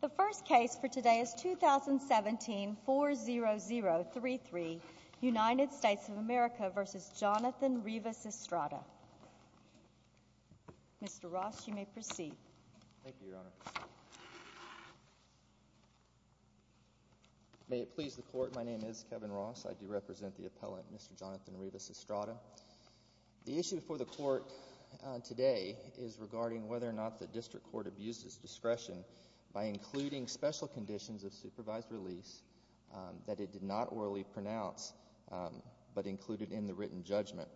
The first case for today is 2017-40033, United States of America v. Jonathan Rivas-Estrada. Mr. Ross, you may proceed. Thank you, Your Honor. May it please the Court, my name is Kevin Ross. I do represent the appellant, Mr. Jonathan Rivas-Estrada. The issue before the Court today is regarding whether or not the district court abuses discretion by including special conditions of supervised release that it did not orally pronounce but included in the written judgment.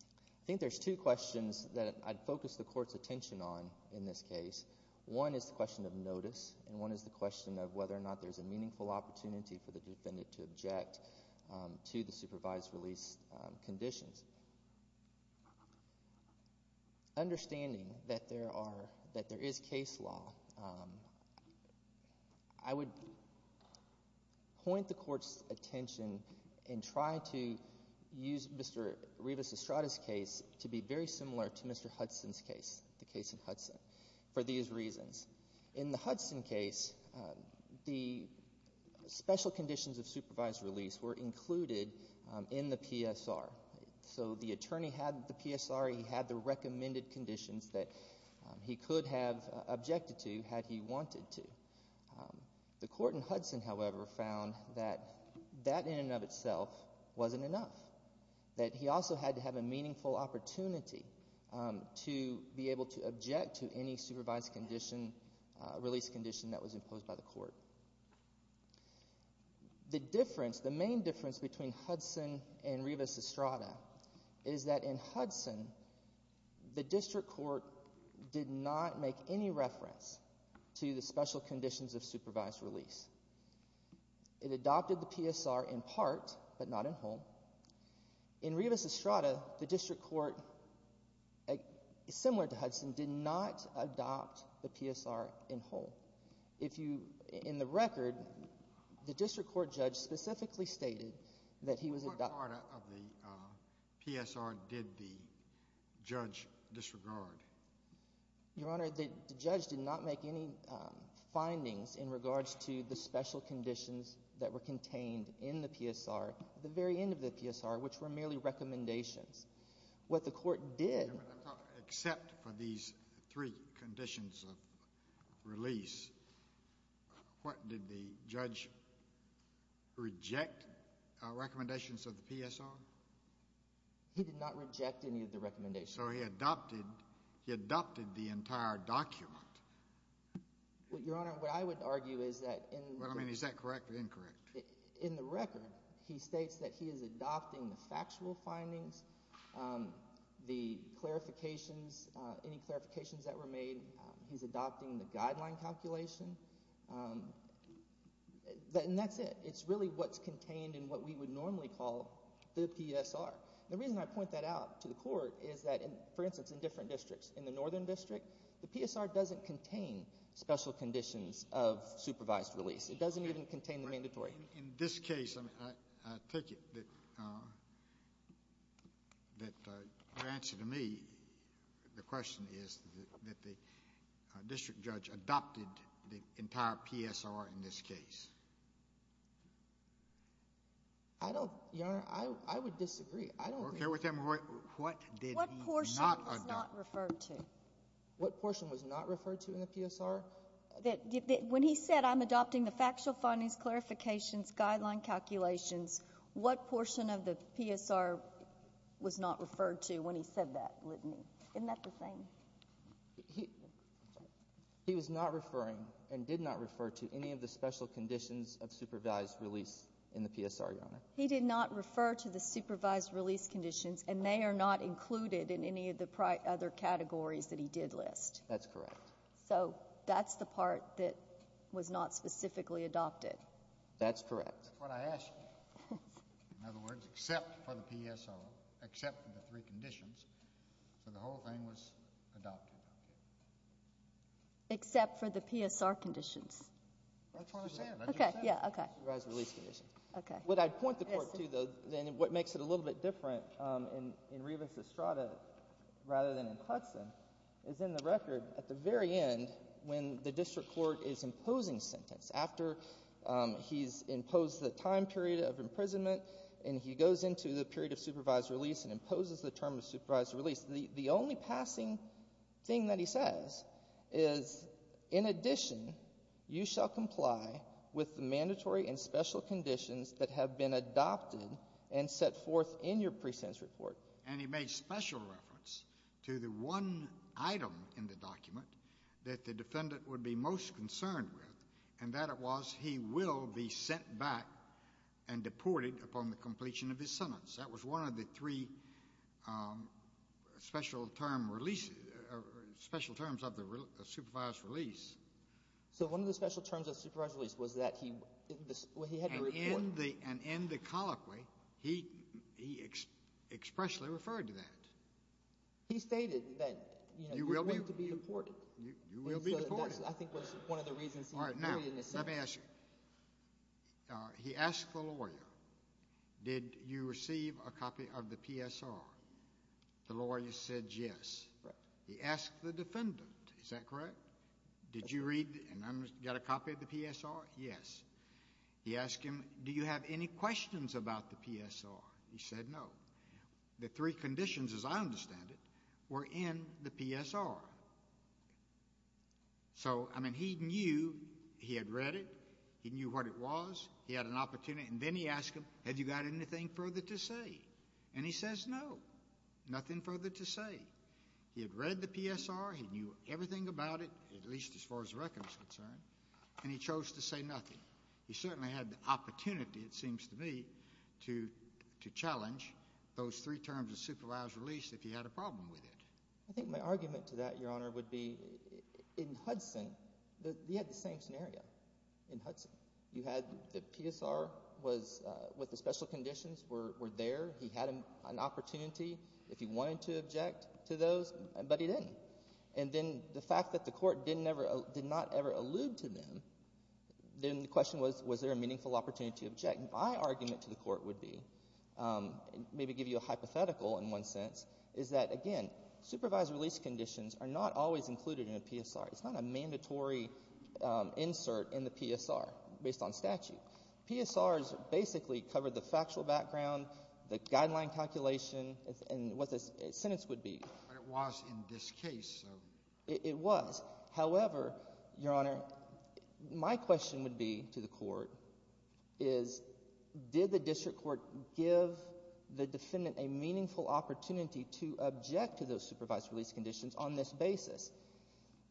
I think there's two questions that I'd focus the Court's attention on in this case. One is the question of notice and one is the question of whether or not there's a meaningful opportunity for the defendant to object to the supervised release conditions. Understanding that there is case law, I would point the Court's attention and try to use Mr. Rivas-Estrada's case to be very similar to Mr. Hudson's case, the case in Hudson. For these reasons, in the Hudson case, the special conditions of supervised release were included in the PSR. So the attorney had the PSR, he had the recommended conditions that he could have objected to had he wanted to. The Court in Hudson, however, found that that in and of itself wasn't enough, that he also had to have a meaningful opportunity to be able to object to any supervised condition, release condition that was imposed by the Court. The difference, the main difference between Hudson and Rivas-Estrada is that in Hudson, the District Court did not make any reference to the special conditions of supervised release. It adopted the PSR in part, but not in whole. In Rivas-Estrada, the District Court, similar to Hudson, did not adopt the PSR in whole. If you, in the record, the District Court judge specifically stated that he was adopting… What part of the PSR did the judge disregard? Your Honor, the judge did not make any findings in regards to the special conditions that were contained in the PSR at the very end of the PSR, which were merely recommendations. What the Court did… Except for these three conditions of release, what, did the judge reject recommendations of the PSR? He did not reject any of the recommendations. So he adopted, he adopted the entire document. Well, Your Honor, what I would argue is that in… Well, I mean, is that correct or incorrect? In the record, he states that he is adopting the factual findings, the clarifications, any clarifications that were made. He's adopting the guideline calculation. And that's it. It's really what's contained in what we would normally call the PSR. The reason I point that out to the Court is that, for instance, in different districts. In the Northern District, the PSR doesn't contain special conditions of supervised release. It doesn't even contain the mandatory. In this case, I take it that your answer to me, the question is that the district judge adopted the entire PSR in this case. I don't, Your Honor, I would disagree. I don't think… What did he not adopt? What portion was not referred to? What portion was not referred to in the PSR? When he said, I'm adopting the factual findings, clarifications, guideline calculations, what portion of the PSR was not referred to when he said that? Isn't that the same? He was not referring and did not refer to any of the special conditions of supervised release in the PSR, Your Honor. He did not refer to the supervised release conditions, and they are not included in any of the other categories that he did list. That's correct. So that's the part that was not specifically adopted. That's correct. That's what I asked you. In other words, except for the PSR, except for the three conditions, so the whole thing was adopted. Except for the PSR conditions. That's what I said. That's what I said. Okay, yeah, okay. Okay. What I'd point the Court to, though, then what makes it a little bit different in Revis Estrada rather than in Hudson, is in the record at the very end when the district court is imposing sentence. After he's imposed the time period of imprisonment and he goes into the period of supervised release and imposes the term of supervised release, the only passing thing that he says is, in addition, you shall comply with the mandatory and special conditions that have been adopted and set forth in your presence report. And he made special reference to the one item in the document that the defendant would be most concerned with, and that was he will be sent back and deported upon the completion of his sentence. That was one of the three special term releases, special terms of the supervised release. So one of the special terms of supervised release was that he had to report. And in the colloquy, he expressly referred to that. He stated that, you know, you're going to be deported. You will be deported. I think that was one of the reasons he did it in the sentence. Let me ask you. He asked the lawyer, did you receive a copy of the PSR? The lawyer said yes. He asked the defendant, is that correct? Did you read and get a copy of the PSR? Yes. He asked him, do you have any questions about the PSR? He said no. The three conditions, as I understand it, were in the PSR. So, I mean, he knew he had read it. He knew what it was. He had an opportunity. And then he asked him, have you got anything further to say? And he says no, nothing further to say. He had read the PSR. He knew everything about it, at least as far as the record is concerned. And he chose to say nothing. He certainly had the opportunity, it seems to me, to challenge those three terms of supervised release if he had a problem with it. I think my argument to that, Your Honor, would be in Hudson, he had the same scenario in Hudson. You had the PSR was with the special conditions were there. He had an opportunity if he wanted to object to those, but he didn't. And then the fact that the court did not ever allude to them, then the question was, was there a meaningful opportunity to object? My argument to the court would be, maybe give you a hypothetical in one sense, is that, again, supervised release conditions are not always included in a PSR. It's not a mandatory insert in the PSR based on statute. PSRs basically cover the factual background, the guideline calculation, and what the sentence would be. But it was in this case. It was. However, Your Honor, my question would be to the court is, did the district court give the defendant a meaningful opportunity to object to those supervised release conditions on this basis?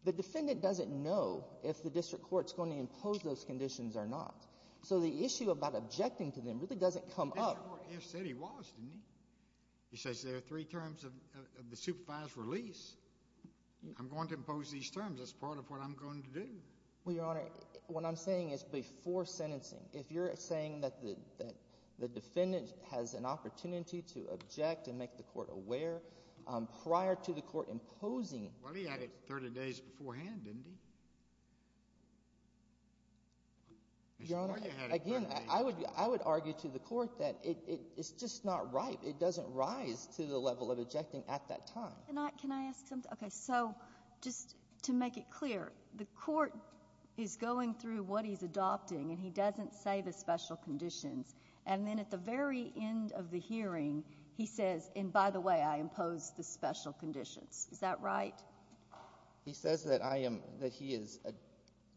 The defendant doesn't know if the district court is going to impose those conditions or not. So the issue about objecting to them really doesn't come up. He said he was, didn't he? He says there are three terms of the supervised release. I'm going to impose these terms. That's part of what I'm going to do. Well, Your Honor, what I'm saying is before sentencing, if you're saying that the defendant has an opportunity to object and make the court aware, prior to the court imposing. Well, he had it 30 days beforehand, didn't he? Your Honor, again, I would argue to the court that it's just not right. It doesn't rise to the level of objecting at that time. Can I ask something? Okay. So just to make it clear, the court is going through what he's adopting, and he doesn't say the special conditions. And then at the very end of the hearing, he says, and by the way, I impose the special conditions. Is that right? He says that I am, that he is,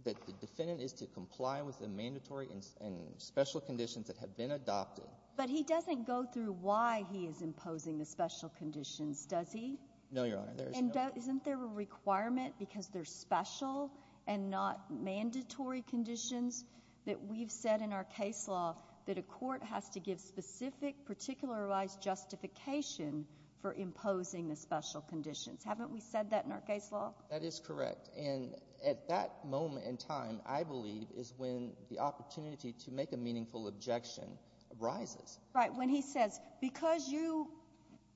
that the defendant is to comply with the mandatory and special conditions that have been adopted. But he doesn't go through why he is imposing the special conditions, does he? No, Your Honor. And isn't there a requirement because they're special and not mandatory conditions that we've said in our case law that a court has to give specific, particularized justification for imposing the special conditions? Haven't we said that in our case law? That is correct. And at that moment in time, I believe, is when the opportunity to make a meaningful objection arises. Right. When he says, because you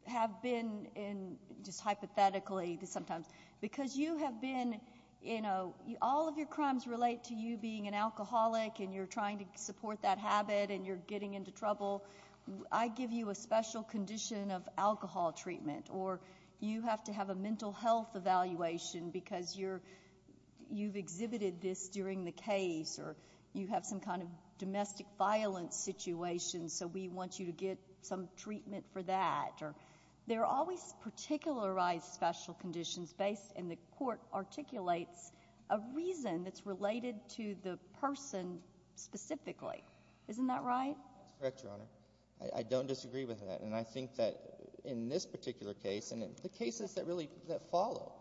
have been in, just hypothetically sometimes, because you have been in a, all of your crimes relate to you being an alcoholic and you're trying to support that habit and you're getting into trouble. I give you a special condition of alcohol treatment, or you have to have a mental health evaluation because you've exhibited this during the case, or you have some kind of domestic violence situation, so we want you to get some treatment for that. There are always particularized special conditions, and the court articulates a reason that's related to the person specifically. Isn't that right? That's correct, Your Honor. I don't disagree with that. And I think that in this particular case, and in the cases that really follow,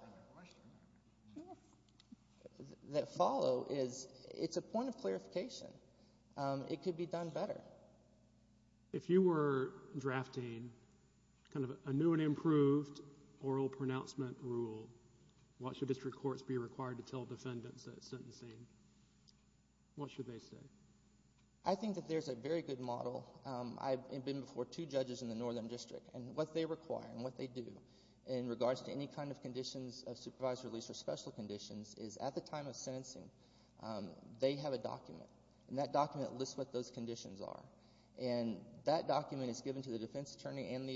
that follow is it's a point of clarification. It could be done better. If you were drafting kind of a new and improved oral pronouncement rule, what should district courts be required to tell defendants that it's sentencing? What should they say? I think that there's a very good model. I've been before two judges in the Northern District, and what they require and what they do in regards to any kind of conditions of supervised release or special conditions is at the time of sentencing they have a document, and that document lists what those conditions are. And that document is given to the defense attorney and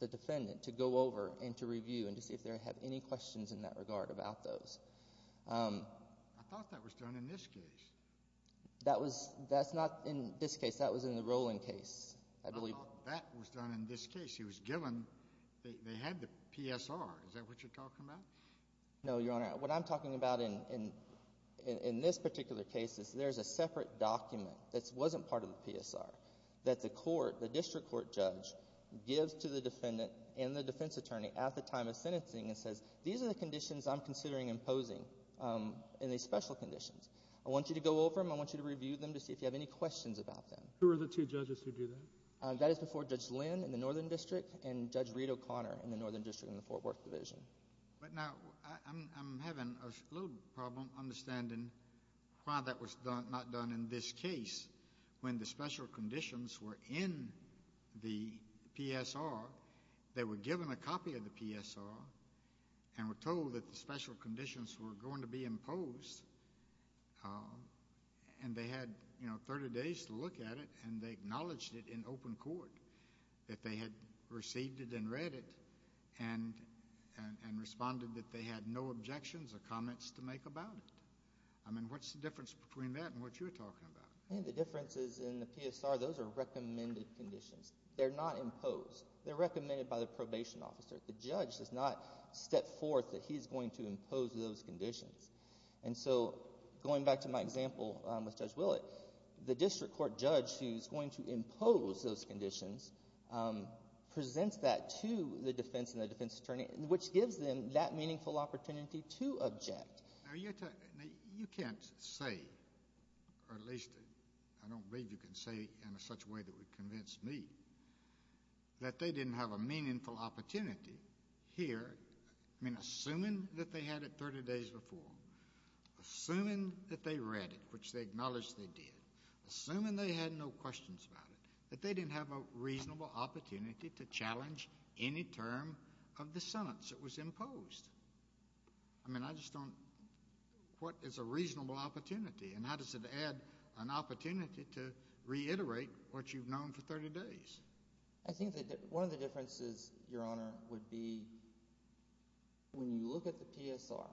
the defendant to go over and to review and to see if they have any questions in that regard about those. I thought that was done in this case. That's not in this case. That was in the Rowland case, I believe. I thought that was done in this case. They had the PSR. Is that what you're talking about? No, Your Honor. What I'm talking about in this particular case is there's a separate document that wasn't part of the PSR that the court, the district court judge, gives to the defendant and the defense attorney at the time of sentencing and says, these are the conditions I'm considering imposing in these special conditions. I want you to go over them. I want you to review them to see if you have any questions about them. Who are the two judges who do that? That is before Judge Lynn in the Northern District and Judge Reed O'Connor in the Northern District in the Fort Worth Division. But now I'm having a little problem understanding why that was not done in this case when the special conditions were in the PSR. They were given a copy of the PSR and were told that the special conditions were going to be imposed, and they had, you know, 30 days to look at it, and they acknowledged it in open court that they had received it and read it and responded that they had no objections or comments to make about it. I mean, what's the difference between that and what you're talking about? The differences in the PSR, those are recommended conditions. They're not imposed. They're recommended by the probation officer. The judge does not step forth that he's going to impose those conditions. And so going back to my example with Judge Willett, the district court judge who's going to impose those conditions presents that to the defense and the defense attorney, which gives them that meaningful opportunity to object. Now, you can't say, or at least I don't believe you can say in such a way that would convince me, that they didn't have a meaningful opportunity here. I mean, assuming that they had it 30 days before, assuming that they read it, which they acknowledged they did, assuming they had no questions about it, that they didn't have a reasonable opportunity to challenge any term of the sentence that was imposed. I mean, I just don't know what is a reasonable opportunity and how does it add an opportunity to reiterate what you've known for 30 days? I think that one of the differences, Your Honor, would be when you look at the PSR,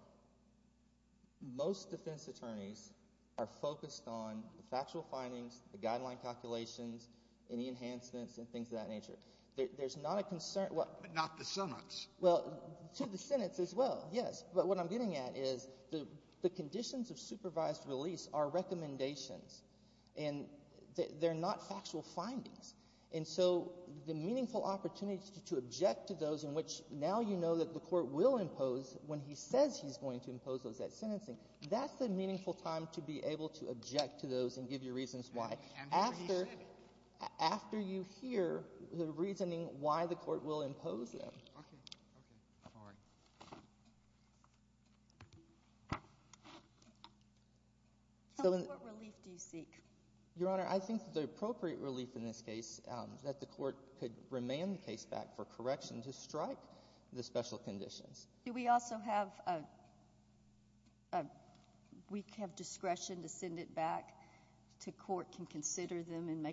most defense attorneys are focused on the factual findings, the guideline calculations, any enhancements and things of that nature. There's not a concern. But not the sentence. Well, to the sentence as well, yes. But what I'm getting at is the conditions of supervised release are recommendations and they're not factual findings. And so the meaningful opportunity to object to those in which now you know that the Court will impose when he says he's going to impose those at sentencing, that's the meaningful time to be able to object to those and give your reasons why. After you hear the reasoning why the Court will impose them. Okay. All right. What relief do you seek? Your Honor, I think the appropriate relief in this case, that the Court could remand the case back for correction to strike the special conditions. Do we also have discretion to send it back to court, can consider them and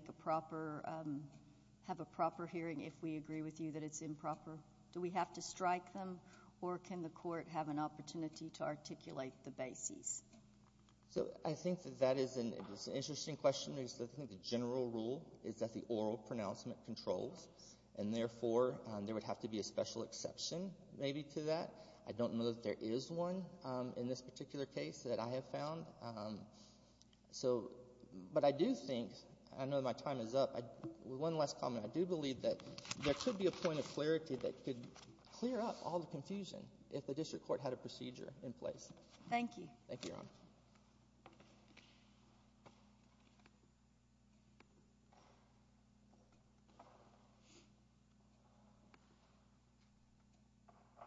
have a proper hearing if we agree with you that it's improper? Do we have to strike them? Or can the Court have an opportunity to articulate the basis? So I think that that is an interesting question. I think the general rule is that the oral pronouncement controls, and therefore there would have to be a special exception maybe to that. I don't know that there is one in this particular case that I have found. But I do think, I know my time is up, one last comment. I do believe that there could be a point of clarity that could clear up all the confusion if the district court had a procedure in place. Thank you. Thank you, Your Honor. Thank you.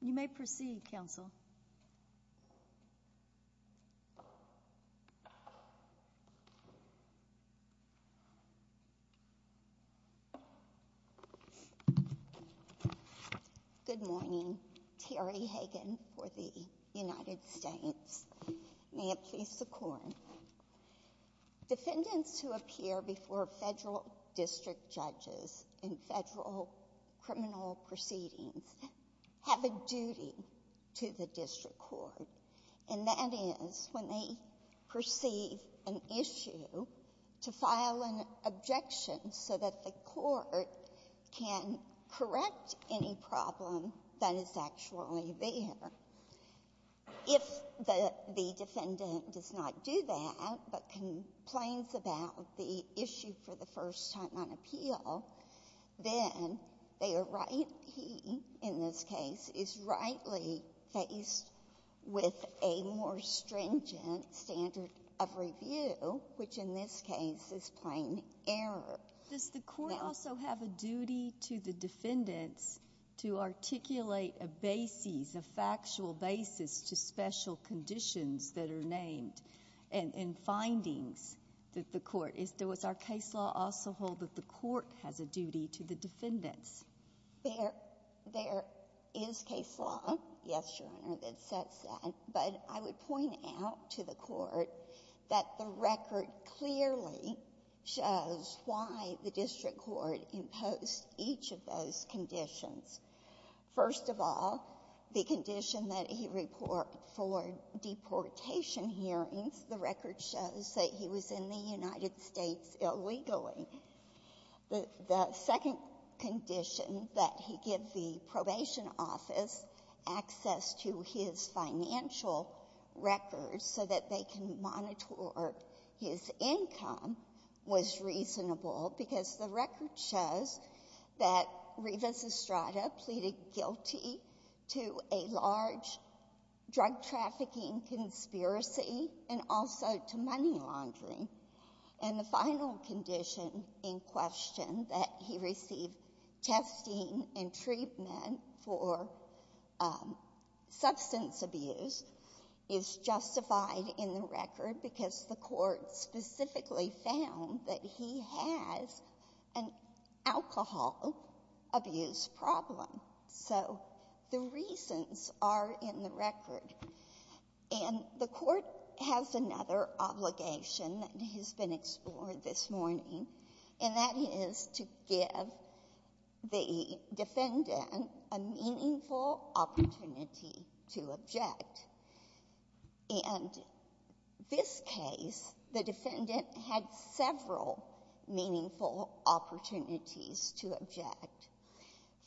You may proceed, counsel. Good morning. Terry Hagan for the United States. May it please the Court. Defendants who appear before Federal district judges in Federal criminal proceedings have a duty to the district court, and that is when they perceive an issue to file an objection so that the Court can correct any problem that is actually there. If the defendant does not do that, but complains about the issue for the first time on appeal, then they are rightly, in this case, is rightly faced with a more stringent standard of review, which in this case is plain error. Does the Court also have a duty to the defendants to articulate a basis, a factual basis, to special conditions that are named in findings that the Court, does our case law also hold that the Court has a duty to the defendants? There is case law, yes, Your Honor, that sets that. But I would point out to the Court that the record clearly shows why the district court imposed each of those conditions. First of all, the condition that he report for deportation hearings, the record shows that he was in the United States illegally. The second condition that he give the probation office access to his financial records so that they can monitor his income was reasonable because the record shows that Rivas Estrada pleaded guilty to a large drug trafficking conspiracy and also to money laundering. And the final condition in question, that he receive testing and treatment for substance abuse, is justified in the record because the Court specifically found that he has an alcohol abuse problem. So the reasons are in the record. And the Court has another obligation that has been explored this morning, and that is to give the defendant a meaningful opportunity to object. And this case, the defendant had several meaningful opportunities to object.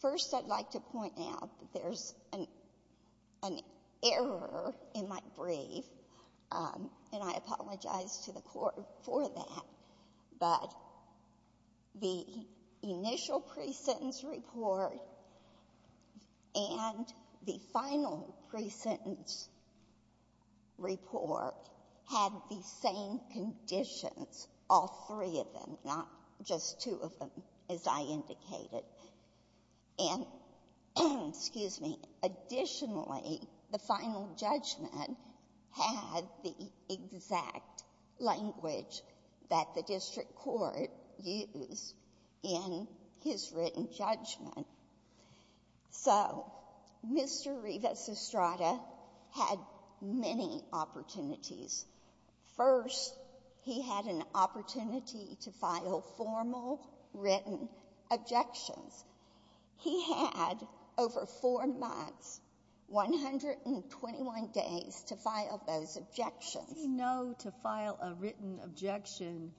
First, I'd like to point out that there's an error in my brief, and I apologize to the Court for that. But the initial pre-sentence report and the final pre-sentence report had the same conditions, all three of them, not just two of them, as I indicated. And, excuse me, additionally, the final judgment had the exact language that the district court used in his written judgment. So Mr. Rivas Estrada had many opportunities. First, he had an opportunity to file formal written objections. He had over four months, 121 days, to file those objections. How does he know to file a written objection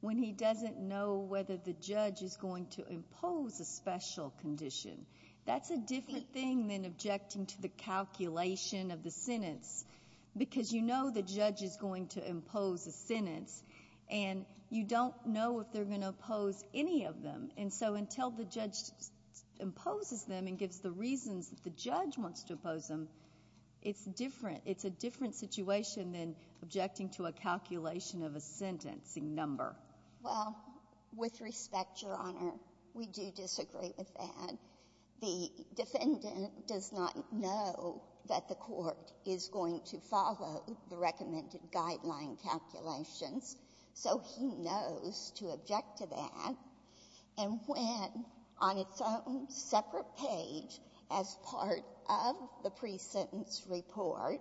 when he doesn't know whether the judge is going to impose a special condition? That's a different thing than objecting to the calculation of the sentence because you know the judge is going to impose a sentence, and you don't know if they're going to impose any of them. And so until the judge imposes them and gives the reasons that the judge wants to impose them, it's different. It's a different situation than objecting to a calculation of a sentencing number. Well, with respect, Your Honor, we do disagree with that. The defendant does not know that the court is going to follow the recommended guideline calculations, so he knows to object to that. And when, on its own separate page, as part of the pre-sentence report,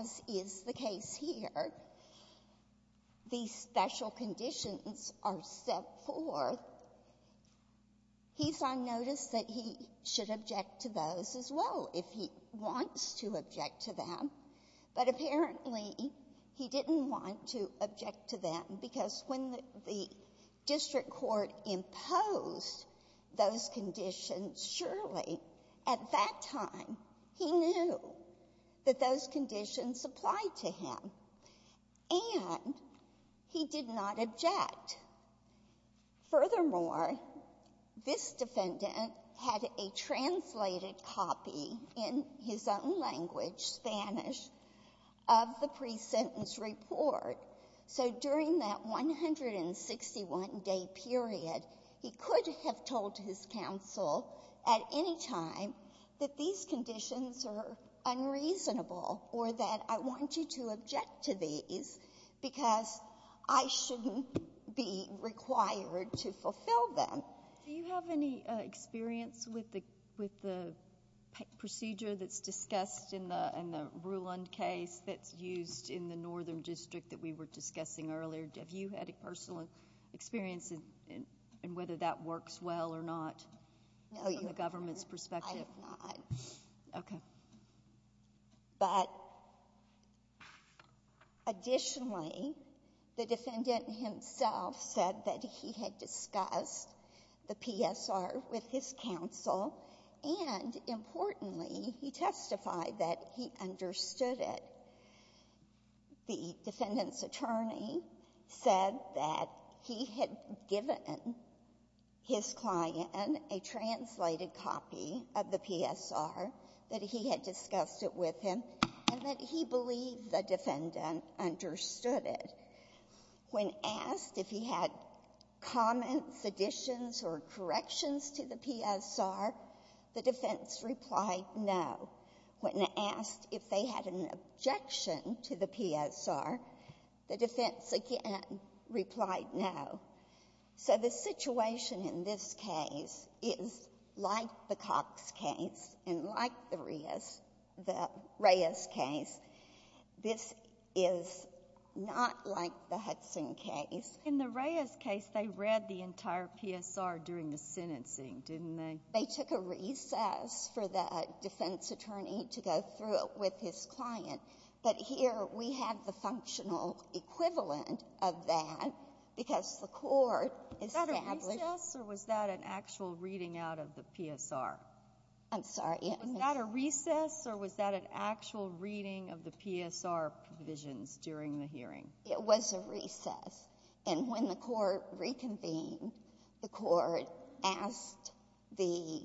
as is the case here, these special conditions are set forth, he's on notice that he is going to object to those as well if he wants to object to them. But apparently, he didn't want to object to them because when the district court imposed those conditions, surely at that time he knew that those conditions applied to him, and he did not object. Furthermore, this defendant had a translated copy in his own language, Spanish, of the pre-sentence report. So during that 161-day period, he could have told his counsel at any time that these conditions are unreasonable or that I want you to object to these because I shouldn't be required to fulfill them. Do you have any experience with the procedure that's discussed in the Ruland case that's used in the northern district that we were discussing earlier? Have you had a personal experience in whether that works well or not from the government's perspective? No, Your Honor, I have not. Okay. But additionally, the defendant himself said that he had discussed the PSR with his counsel, and importantly, he testified that he understood it. The defendant's attorney said that he had given his client a translated copy of the PSR, that he had discussed it with him, and that he believed the defendant understood it. When asked if he had comments, additions, or corrections to the PSR, the defense replied no. When asked if they had an objection to the PSR, the defense again replied no. So the situation in this case is like the Cox case and like the Reyes case. This is not like the Hudson case. In the Reyes case, they read the entire PSR during the sentencing, didn't they? They took a recess for the defense attorney to go through it with his client. But here we have the functional equivalent of that because the court established Is that a recess or was that an actual reading out of the PSR? I'm sorry. Was that a recess or was that an actual reading of the PSR provisions during the hearing? It was a recess. And when the court reconvened, the court asked the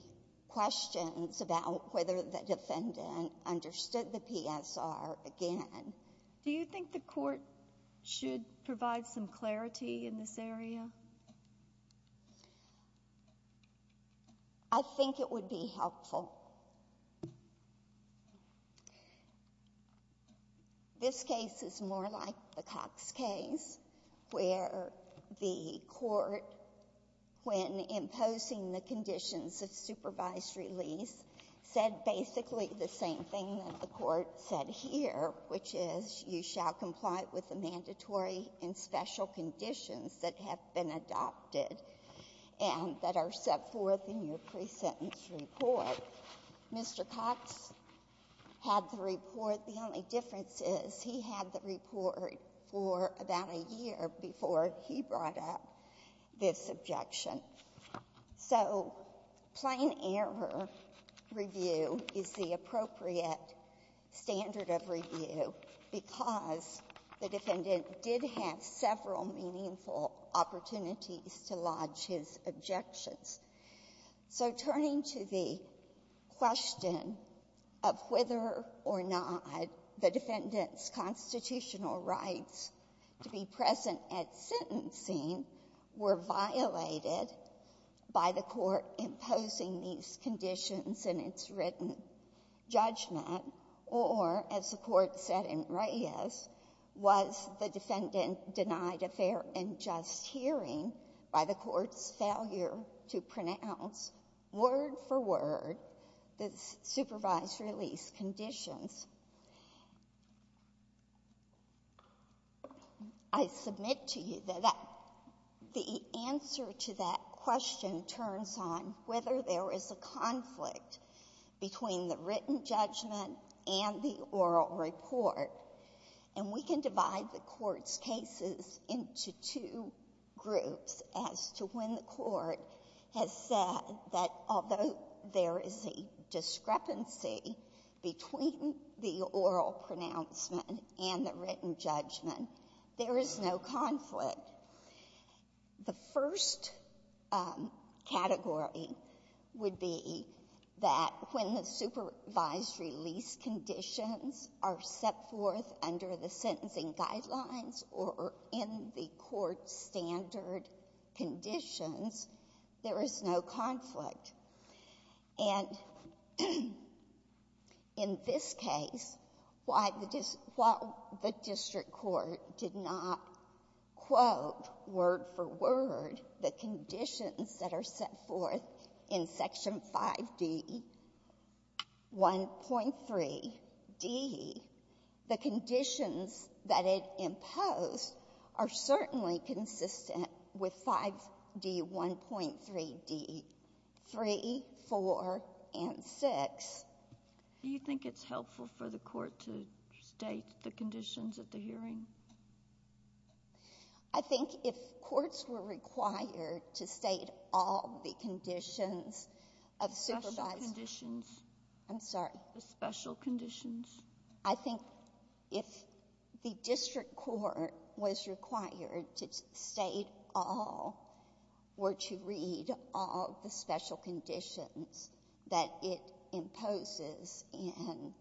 questions about whether the defendant understood the PSR again. Do you think the court should provide some clarity in this area? I think it would be helpful. This case is more like the Cox case where the court, when imposing the conditions of supervised release, said basically the same thing that the court said here, which is you shall comply with the mandatory and special conditions that have been adopted and that are set forth in your pre-sentence report. Mr. Cox had the report. The only difference is he had the report for about a year before he brought up this objection. So plain error review is the appropriate standard of review because the defendant did have several meaningful opportunities to lodge his objections. So turning to the question of whether or not the defendant's constitutional rights to be present at sentencing were violated by the court imposing these conditions in its written judgment or, as the court said in Reyes, was the defendant denied a fair and just hearing by the court's failure to pronounce word for word the supervised release conditions. I submit to you that the answer to that question turns on whether there is a conflict between the written judgment and the oral report. And we can divide the court's cases into two groups as to when the court has said that although there is a discrepancy between the oral pronouncement and the written judgment, there is no conflict. The first category would be that when the supervised release conditions are set forth under the sentencing guidelines or in the court's standard conditions, there is no conflict. And in this case, while the district court did not quote word for word the conditions that are set forth in Section 5D, 1.3d, the conditions that it imposed are certainly consistent with 5D, 1.3d, 3, 4, and 6. Do you think it's helpful for the court to state the conditions at the hearing? I think if courts were required to state all the conditions of supervised — Special conditions. I'm sorry. The special conditions. I think if the district court was required to state all or to read all the special conditions that it imposes in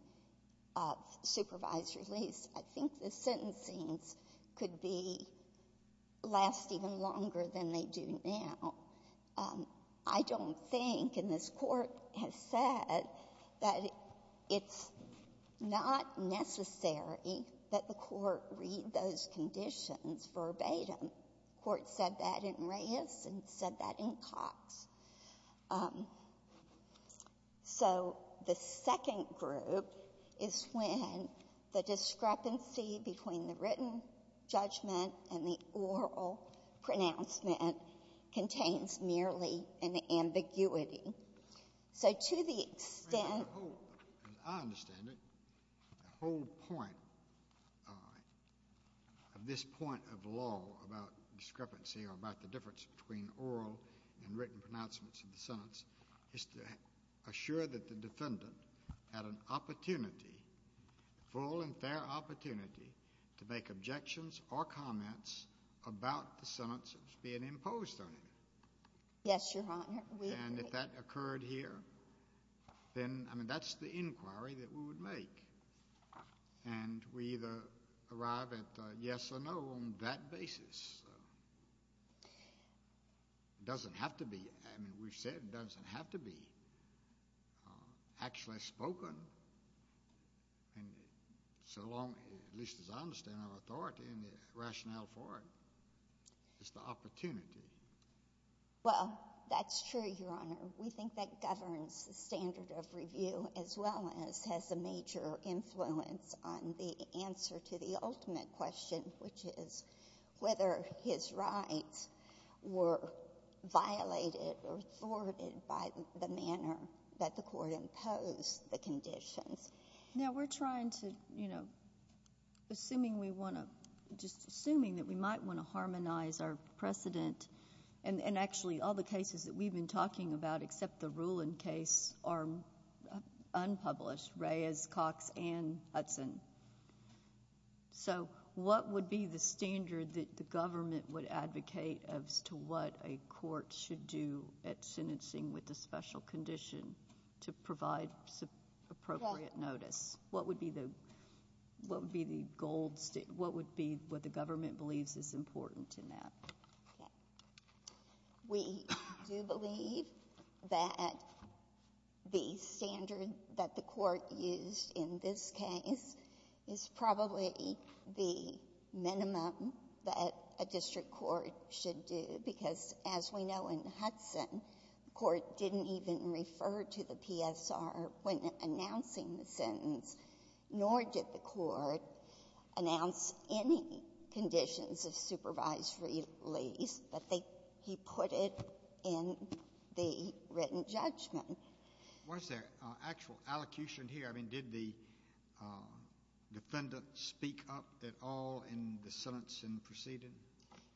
a supervised release, I think the sentencings could be — last even longer than they do now. I don't think, and this Court has said, that it's not necessary that the court read those conditions verbatim. The Court said that in Reyes and said that in Cox. So the second group is when the discrepancy between the written judgment and the oral pronouncement contains merely an ambiguity. So to the extent — As I understand it, the whole point of this point of law about discrepancy or about the difference between oral and written pronouncements of the sentence is to assure that the defendant had an opportunity, full and fair opportunity, to make objections or comments about the sentences being imposed on him. Yes, Your Honor. And if that occurred here, then, I mean, that's the inquiry that we would make. And we either arrive at a yes or no on that basis. It doesn't have to be — I mean, we've said it doesn't have to be actually spoken. And so long — at least as I understand it, our authority and the rationale for it is the opportunity. Well, that's true, Your Honor. We think that governs the standard of review as well as has a major influence on the answer to the ultimate question, which is whether his rights were violated or thwarted by the manner that the court imposed the conditions. Now, we're trying to — you know, assuming we want to — just assuming that we might want to harmonize our precedent, and actually all the cases that we've been talking about except the Rulin case are unpublished, Reyes, Cox, and Hudson. So what would be the standard that the government would advocate as to what a court should do at sentencing with a special condition to provide appropriate notice? What would be the — what would be the gold — what would be what the government believes is important in that? Okay. We do believe that the standard that the court used in this case is probably the minimum that a district court should do, because as we know in Hudson, the court didn't even refer to the PSR when announcing the sentence, nor did the court announce any conditions of supervised release, but they — he put it in the written judgment. Was there actual allocution here? I mean, did the defendant speak up at all in the sentence in the proceeding?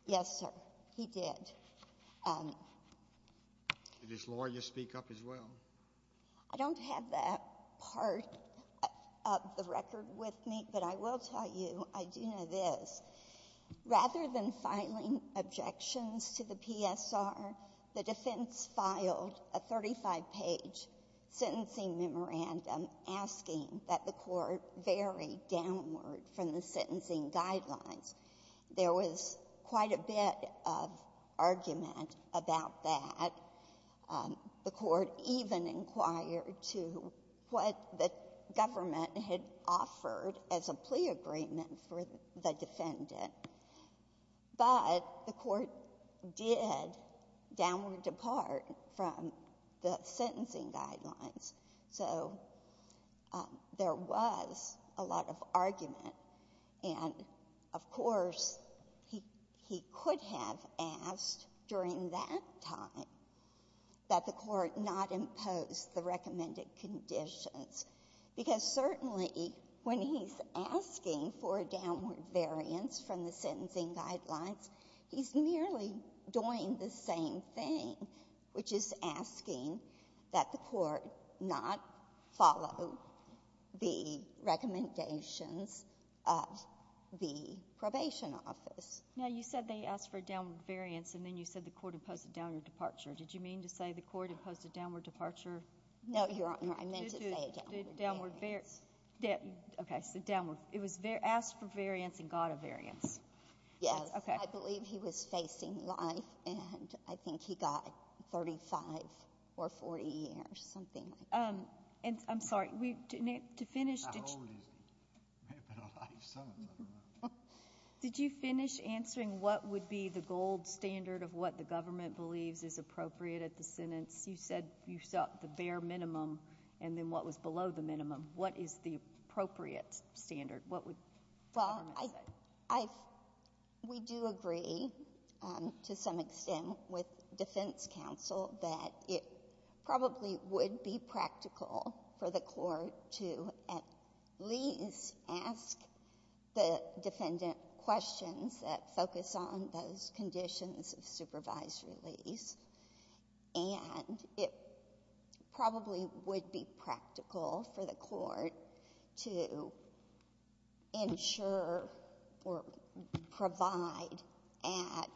Yes, sir. He did. Did his lawyer speak up as well? I don't have that part of the record with me, but I will tell you, I do know this. Rather than filing objections to the PSR, the defense filed a 35-page sentencing memorandum asking that the court vary downward from the sentencing guidelines. There was quite a bit of argument about that. The court even inquired to what the government had offered as a plea agreement for the defendant. But the court did downward depart from the sentencing guidelines, so there was a lot of argument. And, of course, he could have asked during that time that the court not impose the recommended conditions, because certainly when he's asking for a downward variance from the sentencing guidelines, he's merely doing the same thing, which is asking that the court not follow the recommendations of the probation office. Now, you said they asked for a downward variance, and then you said the court imposed a downward departure. Did you mean to say the court imposed a downward departure? No, Your Honor. I meant to say a downward variance. Okay, so downward. It was asked for variance and got a variance. Yes. Okay. I believe he was facing life, and I think he got 35 or 40 years, something like that. And I'm sorry, to finish, did you finish answering what would be the gold standard of what the government believes is appropriate at the sentence? You said you sought the bare minimum, and then what was below the minimum? What is the appropriate standard? What would the government say? Well, we do agree to some extent with defense counsel that it probably would be practical for the court to at least ask the defendant questions that focus on those conditions of supervised release. And it probably would be practical for the court to ensure or provide at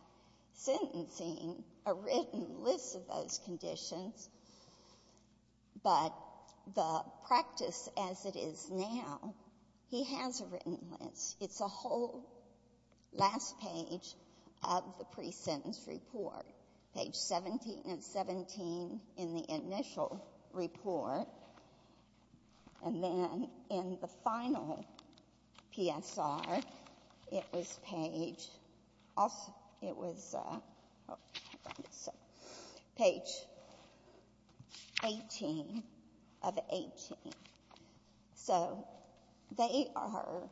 sentencing a written list of those conditions. But the practice as it is now, he has a written list. It's a whole last page of the pre-sentence report, page 17 and 17 in the initial report. And then in the final PSR, it was page 18 of 18. So they are,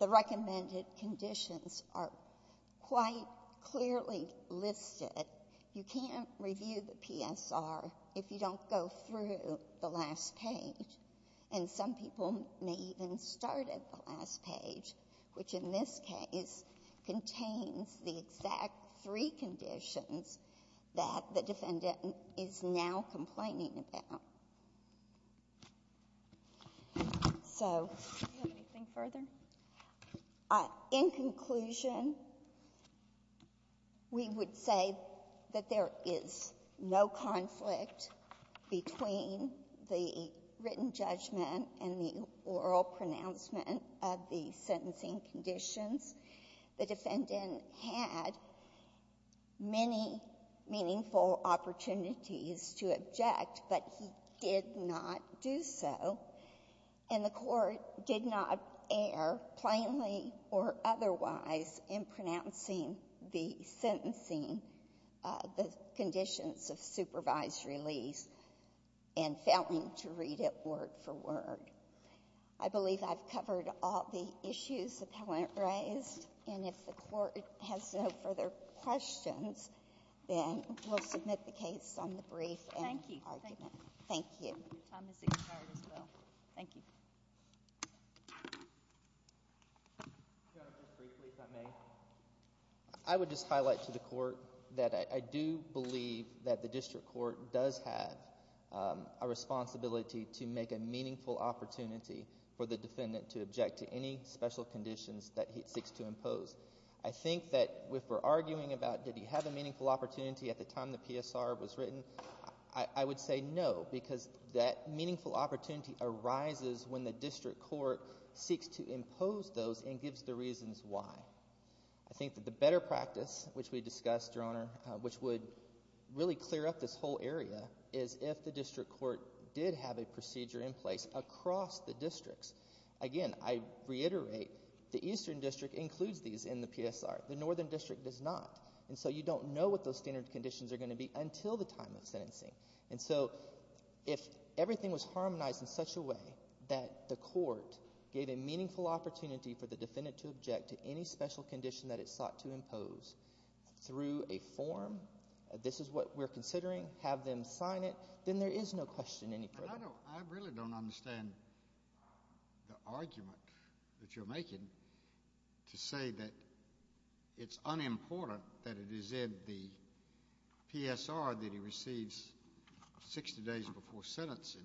the recommended conditions are quite clearly listed. You can't review the PSR if you don't go through the last page. And some people may even start at the last page, which in this case contains the exact three conditions that the defendant is now complaining about. So... Do you have anything further? In conclusion, we would say that there is no conflict between the written judgment and the oral pronouncement of the sentencing conditions. The defendant had many meaningful opportunities to object, but he did not do so. And the court did not err plainly or otherwise in pronouncing the sentencing, the conditions of supervised release, and failing to read it word for word. I believe I've covered all the issues the appellant raised. And if the court has no further questions, then we'll submit the case on the brief and argument. Thank you. Thank you. Your time is expired as well. Thank you. Judge, just briefly, if I may. I would just highlight to the court that I do believe that the district court does have a responsibility to make a meaningful opportunity for the defendant to object to any special conditions that he seeks to impose. I think that if we're arguing about did he have a meaningful opportunity at the time the PSR was written, I would say no, because that meaningful opportunity arises when the district court seeks to impose those and gives the reasons why. I think that the better practice, which we discussed, Your Honor, which would really clear up this whole area, is if the district court did have a procedure in place across the districts. Again, I reiterate, the Eastern District includes these in the PSR. The Northern District does not. And so you don't know what those standard conditions are going to be until the time of sentencing. And so if everything was harmonized in such a way that the court gave a meaningful opportunity for the defendant to object to any special condition that it sought to impose through a form, this is what we're considering, have them sign it, then there is no question any further. I really don't understand the argument that you're making to say that it's unimportant that it is in the PSR that he receives 60 days before sentencing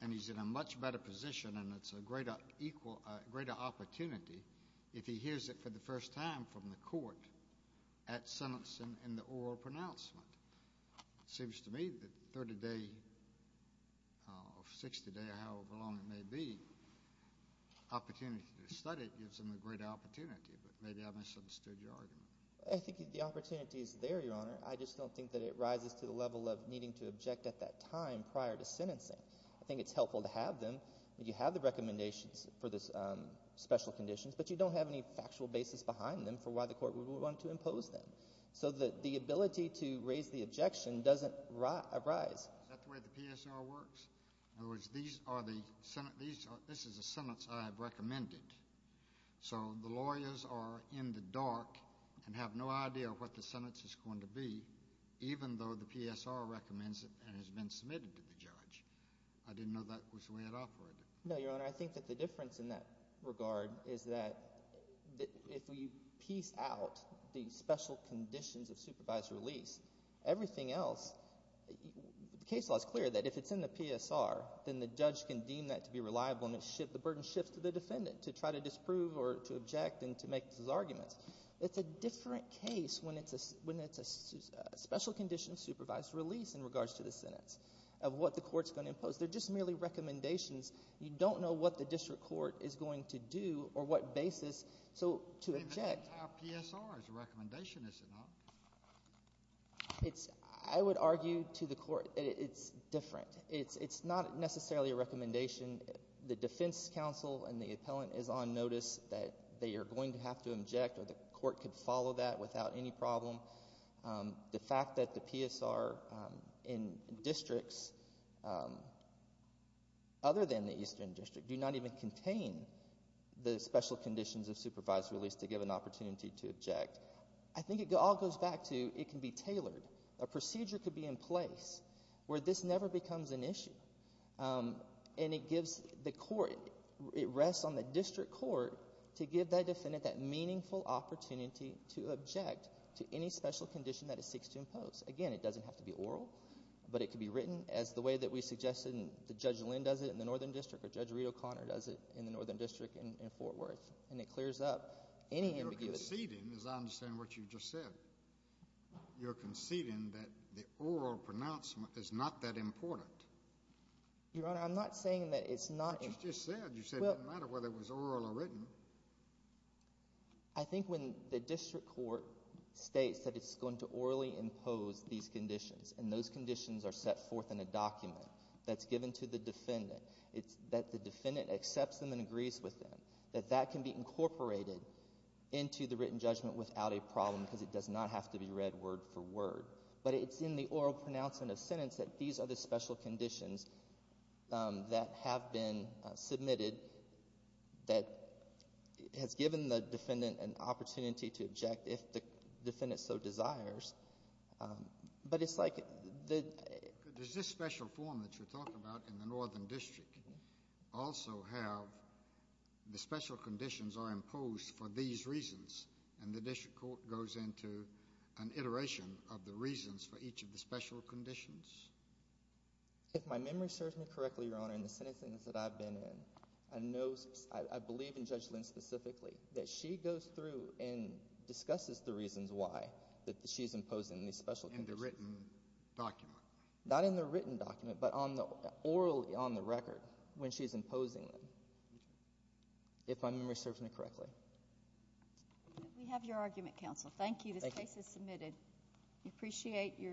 and he's in a much better position and it's a greater opportunity if he hears it for the first time from the court at sentencing in the oral pronouncement. It seems to me that 30-day or 60-day, however long it may be, opportunity to study it gives him a greater opportunity. But maybe I misunderstood your argument. I think the opportunity is there, Your Honor. I just don't think that it rises to the level of needing to object at that time prior to sentencing. I think it's helpful to have them. You have the recommendations for the special conditions, but you don't have any factual basis behind them for why the court would want to impose them. So the ability to raise the objection doesn't arise. Is that the way the PSR works? In other words, this is a sentence I have recommended. So the lawyers are in the dark and have no idea what the sentence is going to be, even though the PSR recommends it and has been submitted to the judge. I didn't know that was the way it operated. No, Your Honor. I think that the difference in that regard is that if we piece out the special conditions of supervised release, everything else—the case law is clear that if it's in the PSR, then the judge can deem that to be reliable and the burden shifts to the defendant to try to disprove or to object and to make his arguments. It's a different case when it's a special condition of supervised release in regards to the sentence of what the court is going to impose. They're just merely recommendations. You don't know what the district court is going to do or what basis to object. It's not a PSR's recommendation, is it not? I would argue to the court it's different. It's not necessarily a recommendation. The defense counsel and the appellant is on notice that they are going to have to object or the court could follow that without any problem. The fact that the PSR in districts other than the Eastern District do not even contain the special conditions of supervised release to give an opportunity to object, I think it all goes back to it can be tailored. A procedure could be in place where this never becomes an issue, and it gives the court, it rests on the district court to give that defendant that meaningful opportunity to object to any special condition that it seeks to impose. Again, it doesn't have to be oral, but it could be written as the way that we suggested and Judge Lynn does it in the Northern District or Judge Reed O'Connor does it in the Northern District in Fort Worth, and it clears up any ambiguity. What you're conceding is I understand what you just said. You're conceding that the oral pronouncement is not that important. Your Honor, I'm not saying that it's not. What you just said. You said it didn't matter whether it was oral or written. I think when the district court states that it's going to orally impose these conditions and those conditions are set forth in a document that's given to the defendant, it's that the defendant accepts them and agrees with them, that that can be incorporated into the written judgment without a problem because it does not have to be read word for word. But it's in the oral pronouncement of sentence that these are the special conditions that have been submitted that has given the defendant an opportunity to object if the defendant so desires. But it's like the— Does this special form that you're talking about in the Northern District also have the special conditions are imposed for these reasons, and the district court goes into an iteration of the reasons for each of the special conditions? If my memory serves me correctly, Your Honor, in the sentence that I've been in, I know—I believe in Judge Lynn specifically that she goes through and discusses the reasons why that she's imposing these special conditions. In the written document? Not in the written document, but orally on the record when she's imposing them, if my memory serves me correctly. We have your argument, counsel. Thank you. This case is submitted. We appreciate your—